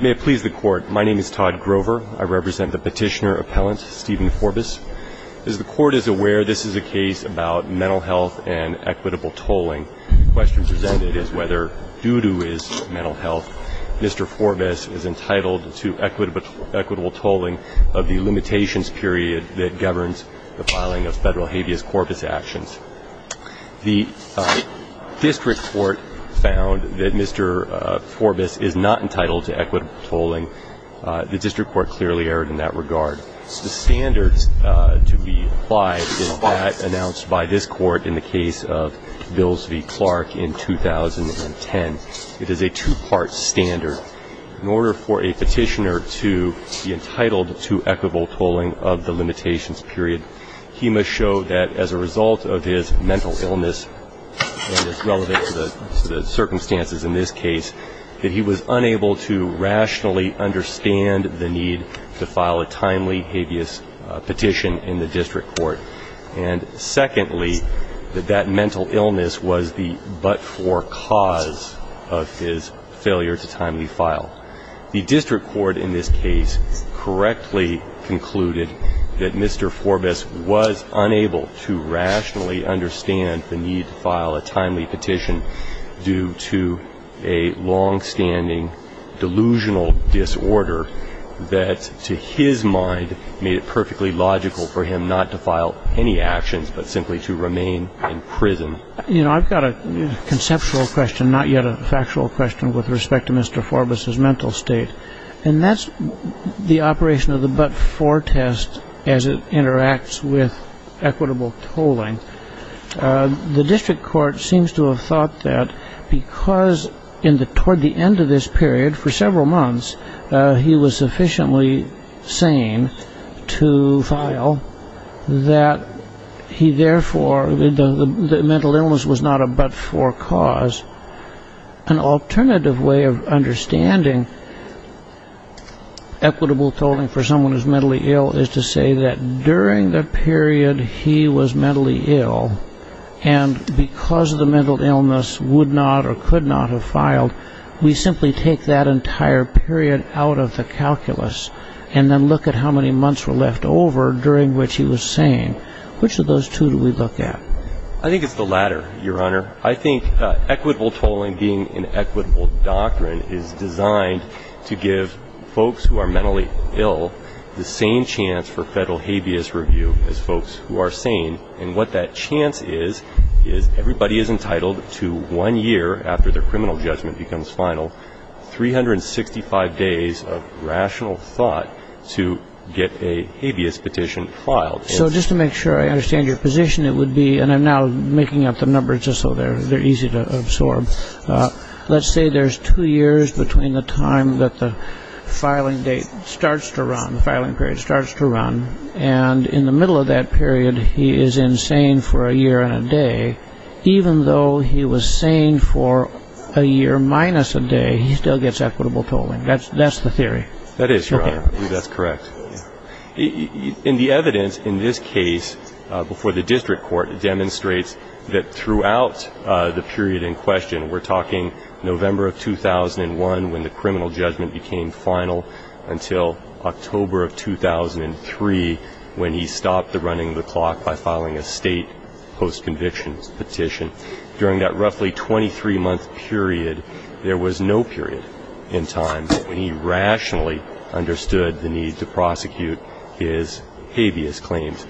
May it please the Court. My name is Todd Grover. I represent the petitioner-appellant Stephen Forbess. As the Court is aware, this is a case about mental health and equitable tolling. The question presented is whether, due to his mental health, Mr. Forbess is entitled to equitable tolling of the limitations period that governs the filing of federal habeas corpus actions. The District Court found that Mr. Forbess is not entitled to equitable tolling. The District Court clearly erred in that regard. The standard to be applied is that announced by this Court in the case of Bills v. Clark in 2010. It is a two-part standard. In order for a petitioner to be entitled to equitable tolling of the limitations period, he must show that as a result of his mental illness, and it's relevant to the circumstances in this case, that he was unable to rationally understand the need to file a timely habeas petition in the District Court. And secondly, that that mental illness was the but-for cause of his failure to timely file. The District Court in this case correctly concluded that Mr. Forbess was unable to rationally understand the need to file a timely petition due to a longstanding delusional disorder that, to his mind, made it perfectly logical for him not to file any actions but simply to remain in prison. You know, I've got a conceptual question, not yet a factual question, with respect to Mr. Forbess' mental state. And that's the operation of the but-for test as it interacts with equitable tolling. The District Court seems to have thought that because toward the end of this period, for several months, he was sufficiently sane to file, that he therefore, the mental illness was not a but-for cause. An alternative way of understanding equitable tolling for someone who's mentally ill is to say that during the period he was mentally ill, and because the mental illness would not or could not have filed, we simply take that entire period out of the calculus and then look at how many months were left over during which he was sane. Which of those two do we look at? I think it's the latter, Your Honor. I think equitable tolling being an equitable doctrine is designed to give folks who are mentally ill the same chance for federal habeas review as folks who are sane. And what that chance is, is everybody is entitled to one year after their criminal judgment becomes final, 365 days of rational thought to get a habeas petition filed. So just to make sure I understand your position, it would be, and I'm now making up the numbers just so they're easy to absorb, let's say there's two years between the time that the filing date starts to run, the filing period starts to run, and in the middle of that period he is insane for a year and a day. Even though he was sane for a year minus a day, he still gets equitable tolling. That's the theory. That is, Your Honor. I believe that's correct. And the evidence in this case before the district court demonstrates that throughout the period in question, we're talking November of 2001 when the criminal judgment became final until October of 2003 when he stopped the running of the clock by filing a state post-conviction petition. During that roughly 23-month period, there was no period in time when he rationally understood the need to prosecute his habeas claims.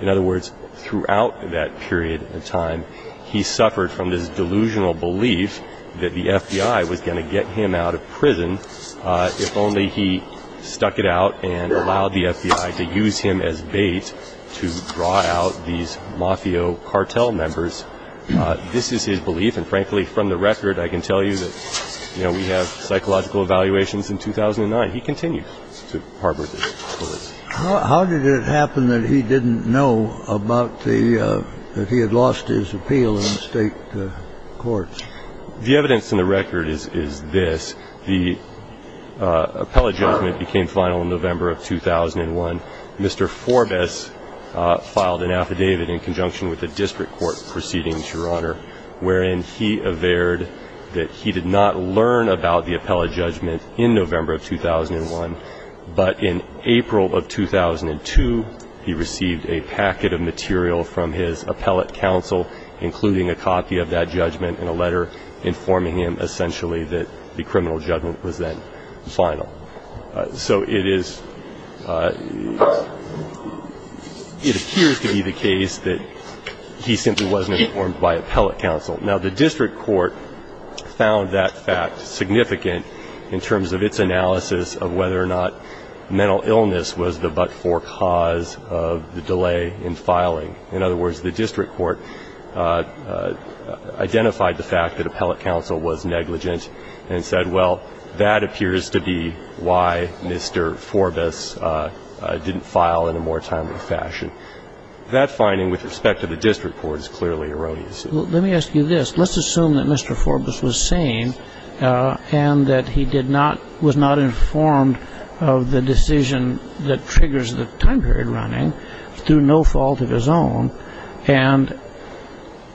In other words, throughout that period of time, he suffered from this delusional belief that the FBI was going to get him out of prison if only he stuck it out and allowed the FBI to use him as bait to draw out these Mafia cartel members. This is his belief, and frankly, from the record, I can tell you that we have psychological evaluations in 2009. He continued to harbor this belief. How did it happen that he didn't know that he had lost his appeal in the state courts? The evidence in the record is this. The appellate judgment became final in November of 2001. Mr. Forbes filed an affidavit in conjunction with the district court proceedings, Your Honor, wherein he averred that he did not learn about the appellate judgment in November of 2001, but in April of 2002, he received a packet of material from his appellate counsel, including a copy of that judgment and a letter informing him essentially that the criminal judgment was then final. So it is ‑‑ it appears to be the case that he simply wasn't informed by appellate counsel. Now, the district court found that fact significant in terms of its analysis of whether or not mental illness was the but‑for cause of the delay in filing. In other words, the district court identified the fact that appellate counsel was negligent and said, well, that appears to be why Mr. Forbes didn't file in a more timely fashion. That finding with respect to the district court is clearly erroneous. Let me ask you this. Let's assume that Mr. Forbes was sane and that he did not ‑‑ was not informed of the decision that triggers the time period running through no fault of his own, and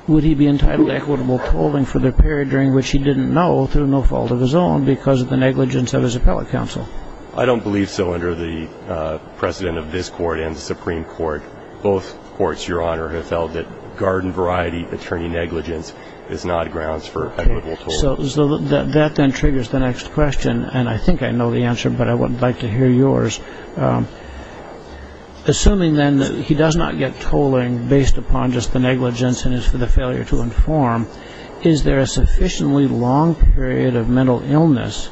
would he be entitled to equitable tolling for the period during which he didn't know through no fault of his own because of the negligence of his appellate counsel? I don't believe so. Under the precedent of this court and the Supreme Court, both courts, Your Honor, have felt that garden variety attorney negligence is not grounds for equitable tolling. So that then triggers the next question, and I think I know the answer, but I would like to hear yours. Assuming, then, that he does not get tolling based upon just the negligence and is for the failure to inform, is there a sufficiently long period of mental illness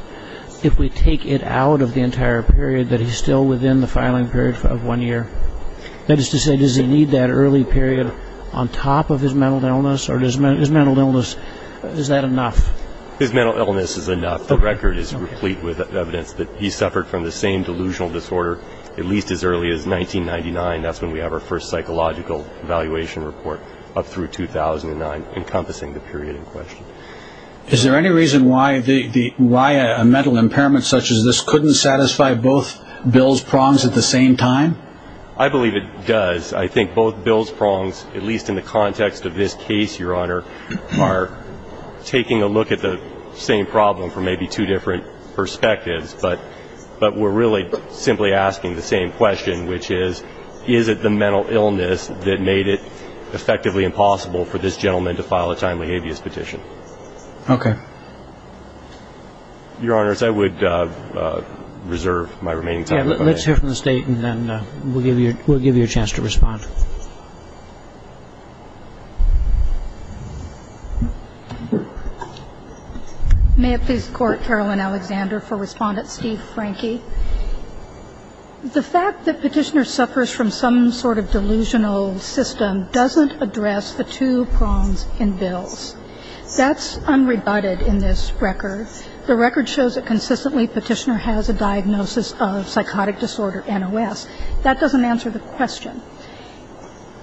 if we take it out of the entire period that he's still within the filing period of one year? That is to say, does he need that early period on top of his mental illness, or his mental illness, is that enough? His mental illness is enough. The record is replete with evidence that he suffered from the same delusional disorder at least as early as 1999. That's when we have our first psychological evaluation report up through 2009, encompassing the period in question. Is there any reason why a mental impairment such as this couldn't satisfy both Bill's prongs at the same time? I believe it does. I think both Bill's prongs, at least in the context of this case, Your Honor, are taking a look at the same problem from maybe two different perspectives, but we're really simply asking the same question, which is, is it the mental illness that made it effectively impossible for this gentleman to file a timely habeas petition? Okay. Your Honors, I would reserve my remaining time. Let's hear from the State, and then we'll give you a chance to respond. May it please the Court, Caroline Alexander, for Respondent Steve Franke. The fact that Petitioner suffers from some sort of delusional system doesn't address the two prongs in Bill's. That's unrebutted in this record. The record shows that consistently Petitioner has a diagnosis of psychotic disorder, NOS. That doesn't answer the question.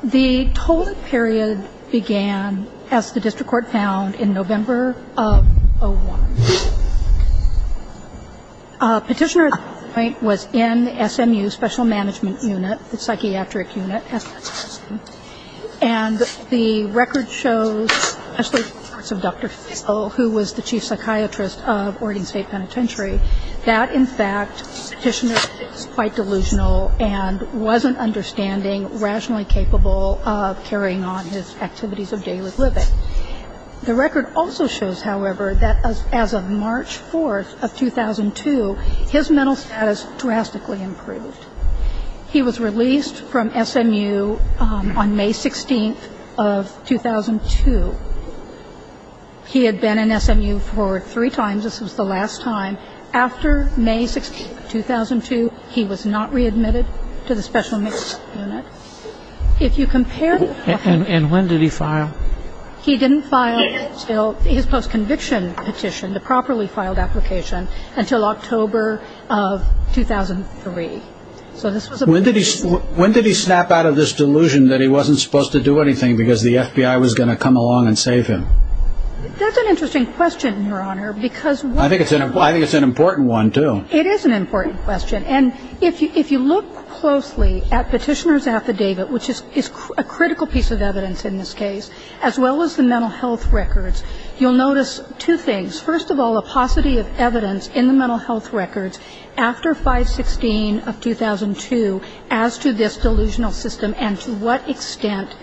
The total period began, as the District Court found, in November of 2001. Petitioner at that point was in SMU, Special Management Unit, the psychiatric unit. And the record shows, especially in the words of Dr. Phil, who was the chief psychiatrist of Oregon State Penitentiary, that in fact Petitioner is quite delusional and wasn't understanding rationally capable of carrying on his activities of daily living. The record also shows, however, that as of March 4th of 2002, his mental status drastically improved. He was released from SMU on May 16th of 2002. He had been in SMU for three times. This was the last time. After May 16th, 2002, he was not readmitted to the Special Management Unit. If you compare the two. And when did he file? He didn't file until his post-conviction petition, the properly filed application, until October of 2003. When did he snap out of this delusion that he wasn't supposed to do anything because the FBI was going to come along and save him? That's an interesting question, Your Honor. I think it's an important one, too. It is an important question. And if you look closely at Petitioner's affidavit, which is a critical piece of evidence in this case, as well as the mental health records, you'll notice two things. There's, first of all, a paucity of evidence in the mental health records after 5-16 of 2002 as to this delusional system and to what extent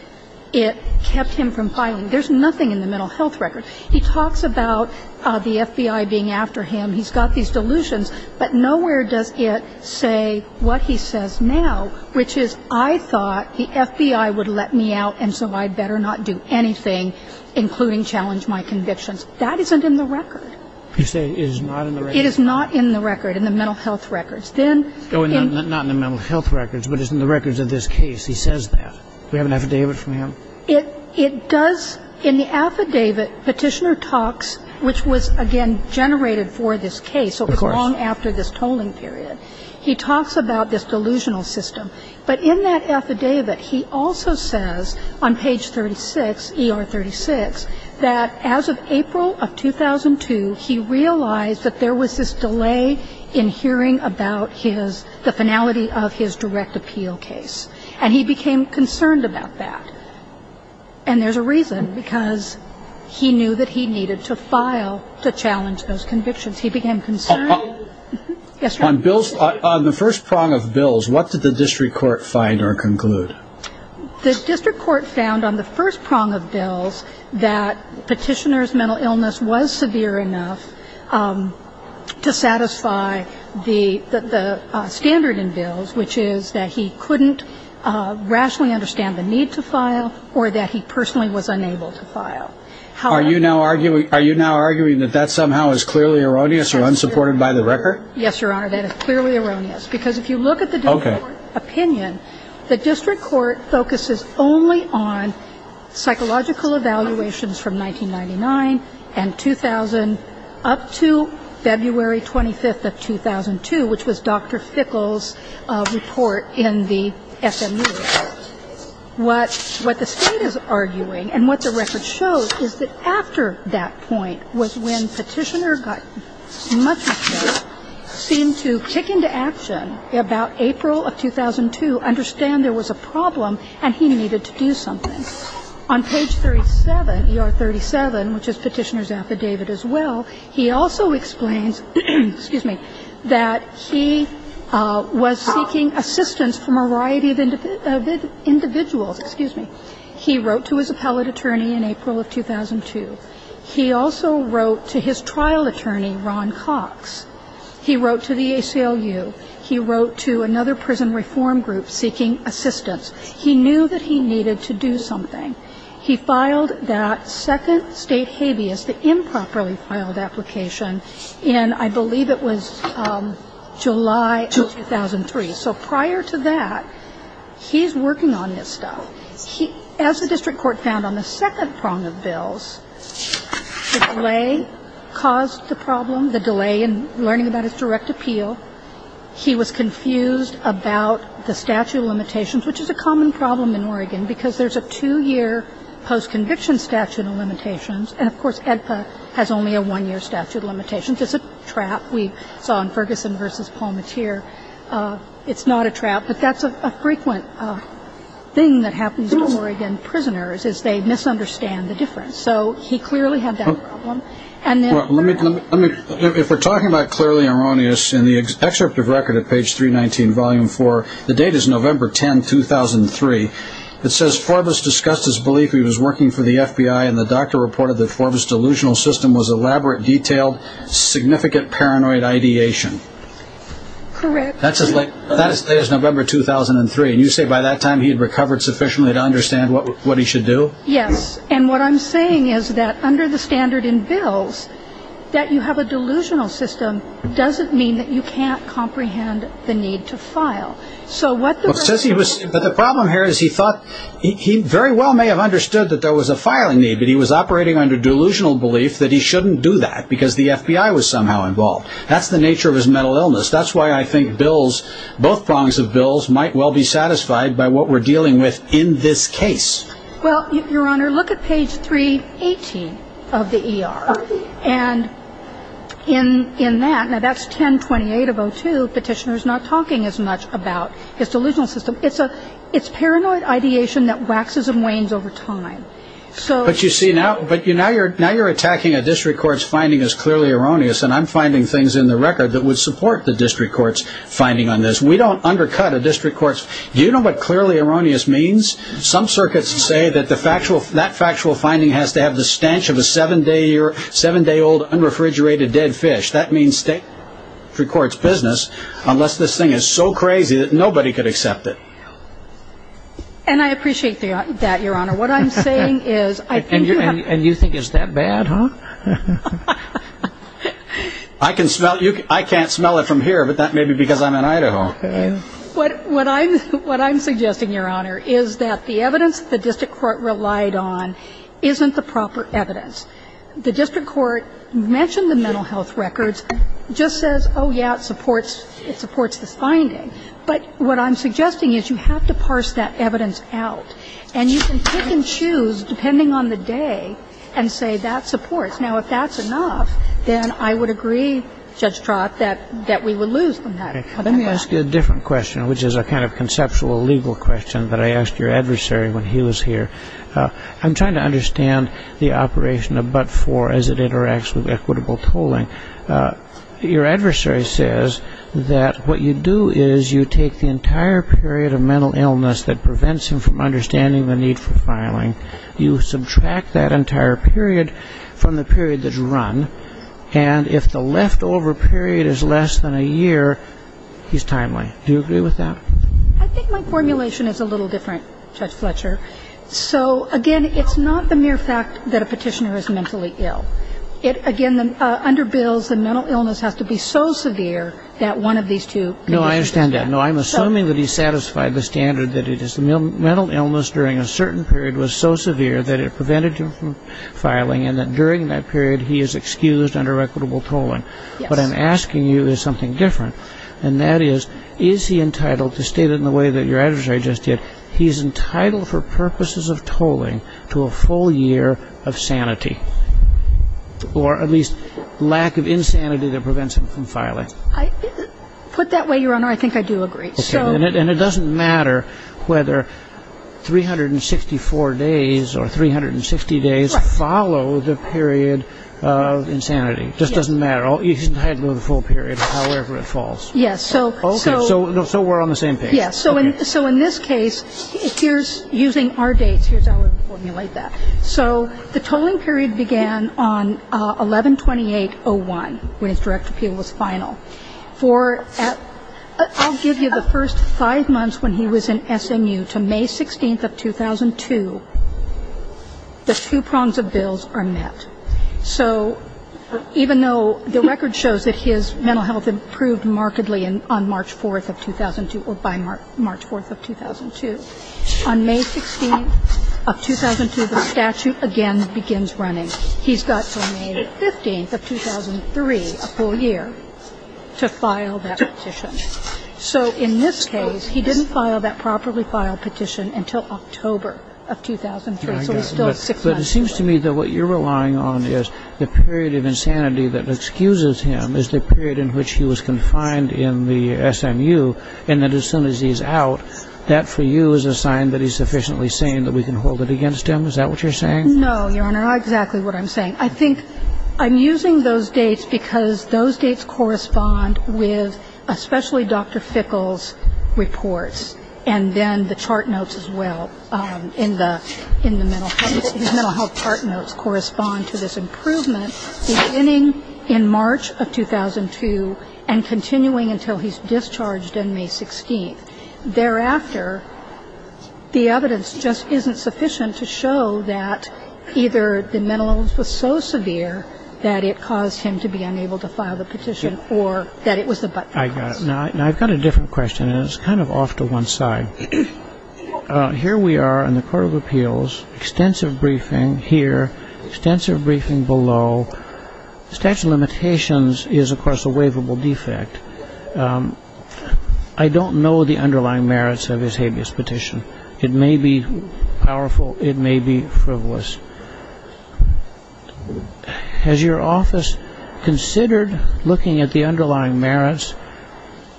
it kept him from filing. There's nothing in the mental health records. He talks about the FBI being after him. He's got these delusions. But nowhere does it say what he says now, which is I thought the FBI would let me out and so I better not do anything, including challenge my convictions. That isn't in the record. You're saying it is not in the record? It is not in the record, in the mental health records. Not in the mental health records, but it's in the records of this case. He says that. Do we have an affidavit from him? It does. In the affidavit, Petitioner talks, which was, again, generated for this case, so it was long after this tolling period. He talks about this delusional system. But in that affidavit, he also says on page 36, ER 36, that as of April of 2002, he realized that there was this delay in hearing about the finality of his direct appeal case. And he became concerned about that. And there's a reason, because he knew that he needed to file to challenge those convictions. He became concerned. Yes, sir? On the first prong of bills, what did the district court find or conclude? The district court found on the first prong of bills that Petitioner's mental illness was severe enough to satisfy the standard in bills, which is that he couldn't rationally understand the need to file or that he personally was unable to file. Are you now arguing that that somehow is clearly erroneous or unsupported by the record? Yes, Your Honor, that is clearly erroneous. Because if you look at the district court opinion, the district court focuses only on psychological evaluations from 1999 and 2000 up to February 25th of 2002, which was Dr. Fickle's report in the SMU. What the State is arguing and what the record shows is that after that point was when Petitioner got much better, seemed to kick into action about April of 2002, understand there was a problem, and he needed to do something. On page 37, ER 37, which is Petitioner's affidavit as well, he also explains, excuse me, that he was seeking assistance from a variety of individuals. Excuse me. He wrote to his appellate attorney in April of 2002. He also wrote to his trial attorney, Ron Cox. He wrote to the ACLU. He wrote to another prison reform group seeking assistance. He knew that he needed to do something. He filed that second state habeas, the improperly filed application, in I believe it was July of 2003. So prior to that, he's working on this stuff. As the district court found on the second prong of bills, the delay caused the problem, the delay in learning about his direct appeal. He was confused about the statute of limitations, which is a common problem in Oregon, because there's a two-year post-conviction statute of limitations, and, of course, AEDPA has only a one-year statute of limitations. It's a trap. We saw in Ferguson v. Palmateer, it's not a trap. But that's a frequent thing that happens to Oregon prisoners is they misunderstand the difference. So he clearly had that problem. And then – Well, let me – if we're talking about clearly erroneous in the excerpt of record at page 319, Volume 4, the date is November 10, 2003. It says, Forbus discussed his belief he was working for the FBI, and the doctor reported that Forbus' delusional system was elaborate, detailed, significant paranoid ideation. Correct. That is November 2003. And you say by that time he had recovered sufficiently to understand what he should do? Yes. And what I'm saying is that under the standard in bills that you have a delusional system doesn't mean that you can't comprehend the need to file. So what the – But the problem here is he thought – he very well may have understood that there was a filing need, but he was operating under delusional belief that he shouldn't do that because the FBI was somehow involved. That's the nature of his mental illness. That's why I think bills – both prongs of bills might well be satisfied by what we're dealing with in this case. Well, Your Honor, look at page 318 of the ER. Okay. And in that – now, that's 1028 of 02. Petitioner's not talking as much about his delusional system. It's paranoid ideation that waxes and wanes over time. But you see, now you're attacking a district court's finding as clearly erroneous, and I'm finding things in the record that would support the district court's finding on this. We don't undercut a district court's – do you know what clearly erroneous means? Some circuits say that the factual – that factual finding has to have the stench of a seven-day-old, unrefrigerated dead fish. That means district court's business, unless this thing is so crazy that nobody could accept it. And I appreciate that, Your Honor. What I'm saying is I think you have – And you think it's that bad, huh? I can smell – I can't smell it from here, but that may be because I'm in Idaho. What I'm – what I'm suggesting, Your Honor, is that the evidence the district court relied on isn't the proper evidence. The district court mentioned the mental health records, just says, oh, yeah, it supports – it supports this finding. But what I'm suggesting is you have to parse that evidence out. And you can pick and choose, depending on the day, and say that supports. Now, if that's enough, then I would agree, Judge Trott, that we would lose from that. Okay. Let me ask you a different question, which is a kind of conceptual legal question that I asked your adversary when he was here. I'm trying to understand the operation of but-for as it interacts with equitable tolling. Your adversary says that what you do is you take the entire period of mental illness that prevents him from understanding the need for filing. You subtract that entire period from the period that's run. And if the leftover period is less than a year, he's timely. Do you agree with that? I think my formulation is a little different, Judge Fletcher. So, again, it's not the mere fact that a petitioner is mentally ill. It – again, under bills, the mental illness has to be so severe that one of these two – No, I understand that. No, I'm assuming that he satisfied the standard that it is – the mental illness during a certain period was so severe that it prevented him from filing, and that during that period, he is excused under equitable tolling. Yes. What I'm asking you is something different, and that is, is he entitled – to state it in the way that your adversary just did – he's entitled for purposes of tolling to a full year of sanity, or at least lack of insanity that prevents him from filing? Put that way, Your Honor, I think I do agree. Okay. And it doesn't matter whether 364 days or 360 days follow the period of insanity. Just doesn't matter. He's entitled to the full period, however it falls. Yes. Okay. So we're on the same page. Yes. So in this case, here's – using our dates, here's how we formulate that. So the tolling period began on 11-28-01, when his direct appeal was final. For – I'll give you the first five months when he was in SMU, to May 16th of 2002, the two prongs of bills are met. So even though the record shows that his mental health improved markedly on March 4th of 2002 or by March 4th of 2002, on May 16th of 2002, the statute again begins running. And then on May 16th of 2002, he's got until May 15th of 2003, a full year, to file that petition. So in this case, he didn't file that properly filed petition until October of 2003. So he's still six months. But it seems to me that what you're relying on is the period of insanity that excuses him is the period in which he was confined in the SMU, and that as soon as he's out, that for you is a sign that he's sufficiently sane that we can hold it against him. Is that what you're saying? No, Your Honor. Not exactly what I'm saying. I think I'm using those dates because those dates correspond with especially Dr. Fickle's reports and then the chart notes as well in the mental health – his mental health chart notes correspond to this improvement beginning in March of 2002 and continuing until he's discharged on May 16th. Thereafter, the evidence just isn't sufficient to show that either the mental illness was so severe that it caused him to be unable to file the petition or that it was the but-for-cause. Now, I've got a different question, and it's kind of off to one side. Here we are in the Court of Appeals, extensive briefing here, extensive briefing below. The statute of limitations is, of course, a waivable defect. I don't know the underlying merits of his habeas petition. It may be powerful. It may be frivolous. Has your office considered looking at the underlying merits,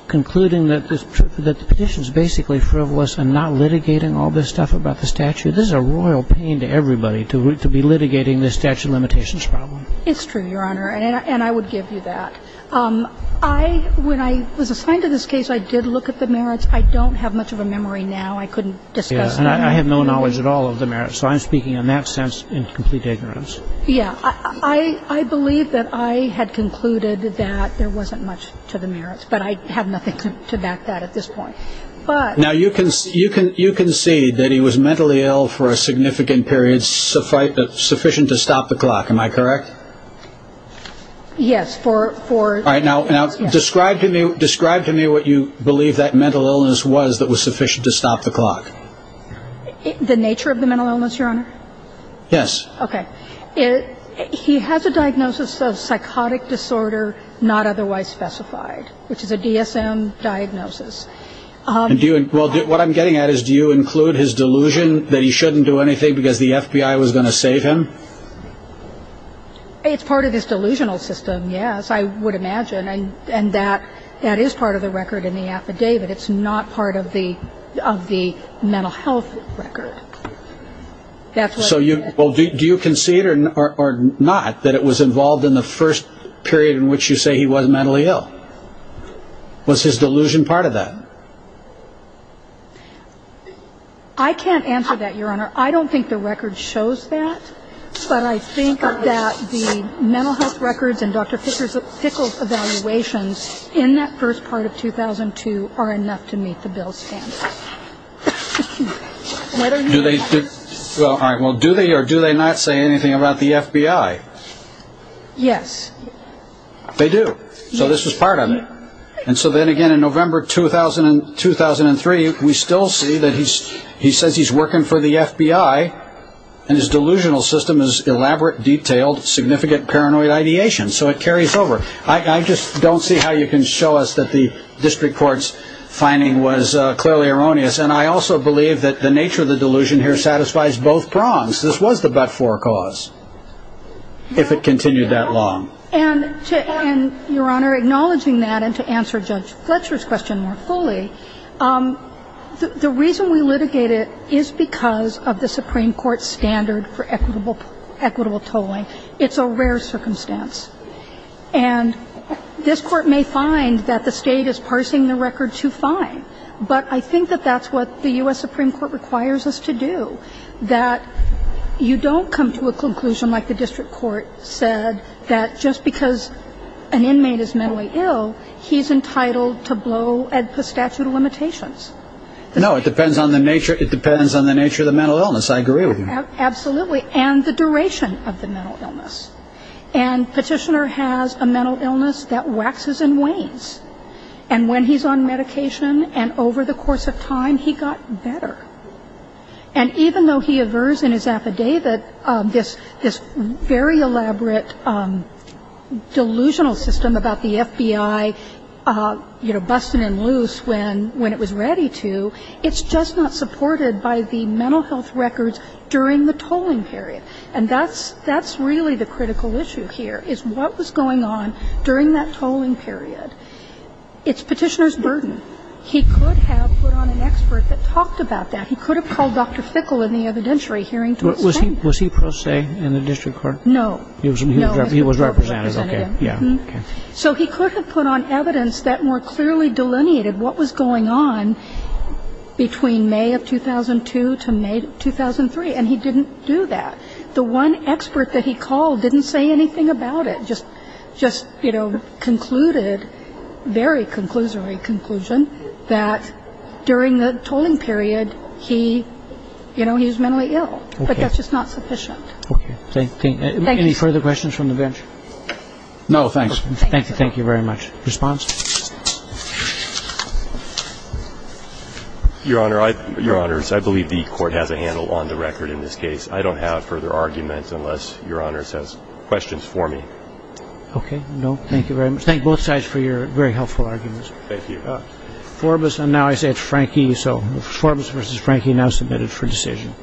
concluding that the petition is basically frivolous and not litigating all this stuff about the statute? This is a royal pain to everybody to be litigating this statute of limitations problem. It's true, Your Honor, and I would give you that. When I was assigned to this case, I did look at the merits. I don't have much of a memory now. I couldn't discuss them. And I have no knowledge at all of the merits, so I'm speaking in that sense in complete ignorance. Yeah. I believe that I had concluded that there wasn't much to the merits, but I have nothing to back that at this point. Now, you can see that he was mentally ill for a significant period sufficient to stop the clock. Am I correct? Yes. All right. Now, describe to me what you believe that mental illness was that was sufficient to stop the clock. The nature of the mental illness, Your Honor? Yes. Okay. He has a diagnosis of psychotic disorder not otherwise specified, which is a DSM diagnosis. Well, what I'm getting at is do you include his delusion that he shouldn't do anything because the FBI was going to save him? It's part of his delusional system, yes, I would imagine. And that is part of the record in the affidavit. It's not part of the mental health record. So do you concede or not that it was involved in the first period in which you say he was mentally ill? Was his delusion part of that? I can't answer that, Your Honor. I don't think the record shows that, but I think that the mental health records and Dr. Pickles' evaluations in that first part of 2002 are enough to meet the bill's standard. Do they or do they not say anything about the FBI? Yes. They do? Yes. So this was part of it. And so then again, in November 2003, we still see that he says he's working for the FBI and his delusional system is elaborate, detailed, significant paranoid ideation. So it carries over. I just don't see how you can show us that the district court's finding was clearly erroneous. And I also believe that the nature of the delusion here satisfies both prongs. This was the but-for cause, if it continued that long. And, Your Honor, acknowledging that and to answer Judge Fletcher's question more fully, the reason we litigate it is because of the Supreme Court standard for equitable tolling. It's a rare circumstance. And this Court may find that the State is parsing the record too fine, but I think that that's what the U.S. Supreme Court requires us to do, that you don't come to a conclusion like the district court said that just because an inmate is mentally ill, he's entitled to blow at the statute of limitations. No, it depends on the nature of the mental illness. I agree with you. Absolutely. And the duration of the mental illness. And Petitioner has a mental illness that waxes and wanes. And when he's on medication and over the course of time, he got better. And even though he aversed in his affidavit this very elaborate delusional system about the FBI, you know, busting in loose when it was ready to, it's just not supported by the mental health records during the tolling period. And that's really the critical issue here, is what was going on during that tolling period. It's Petitioner's burden. He could have put on an expert that talked about that. He could have called Dr. Fickle in the evidentiary hearing to explain that. Was he pro se in the district court? No. He was representative. Yeah. So he could have put on evidence that more clearly delineated what was going on between May of 2002 to May of 2003, and he didn't do that. The one expert that he called didn't say anything about it, and he just, you know, concluded, very conclusory conclusion, that during the tolling period he, you know, he was mentally ill. Okay. But that's just not sufficient. Okay. Thank you. Thank you. Any further questions from the bench? No, thanks. Thank you very much. Response? Your Honor, I believe the Court has a handle on the record in this case. I don't have further arguments unless Your Honor has questions for me. Okay. No, thank you very much. Thank both sides for your very helpful arguments. Thank you. Four of us, and now I say it's Frankie, so four of us versus Frankie now submitted for decision.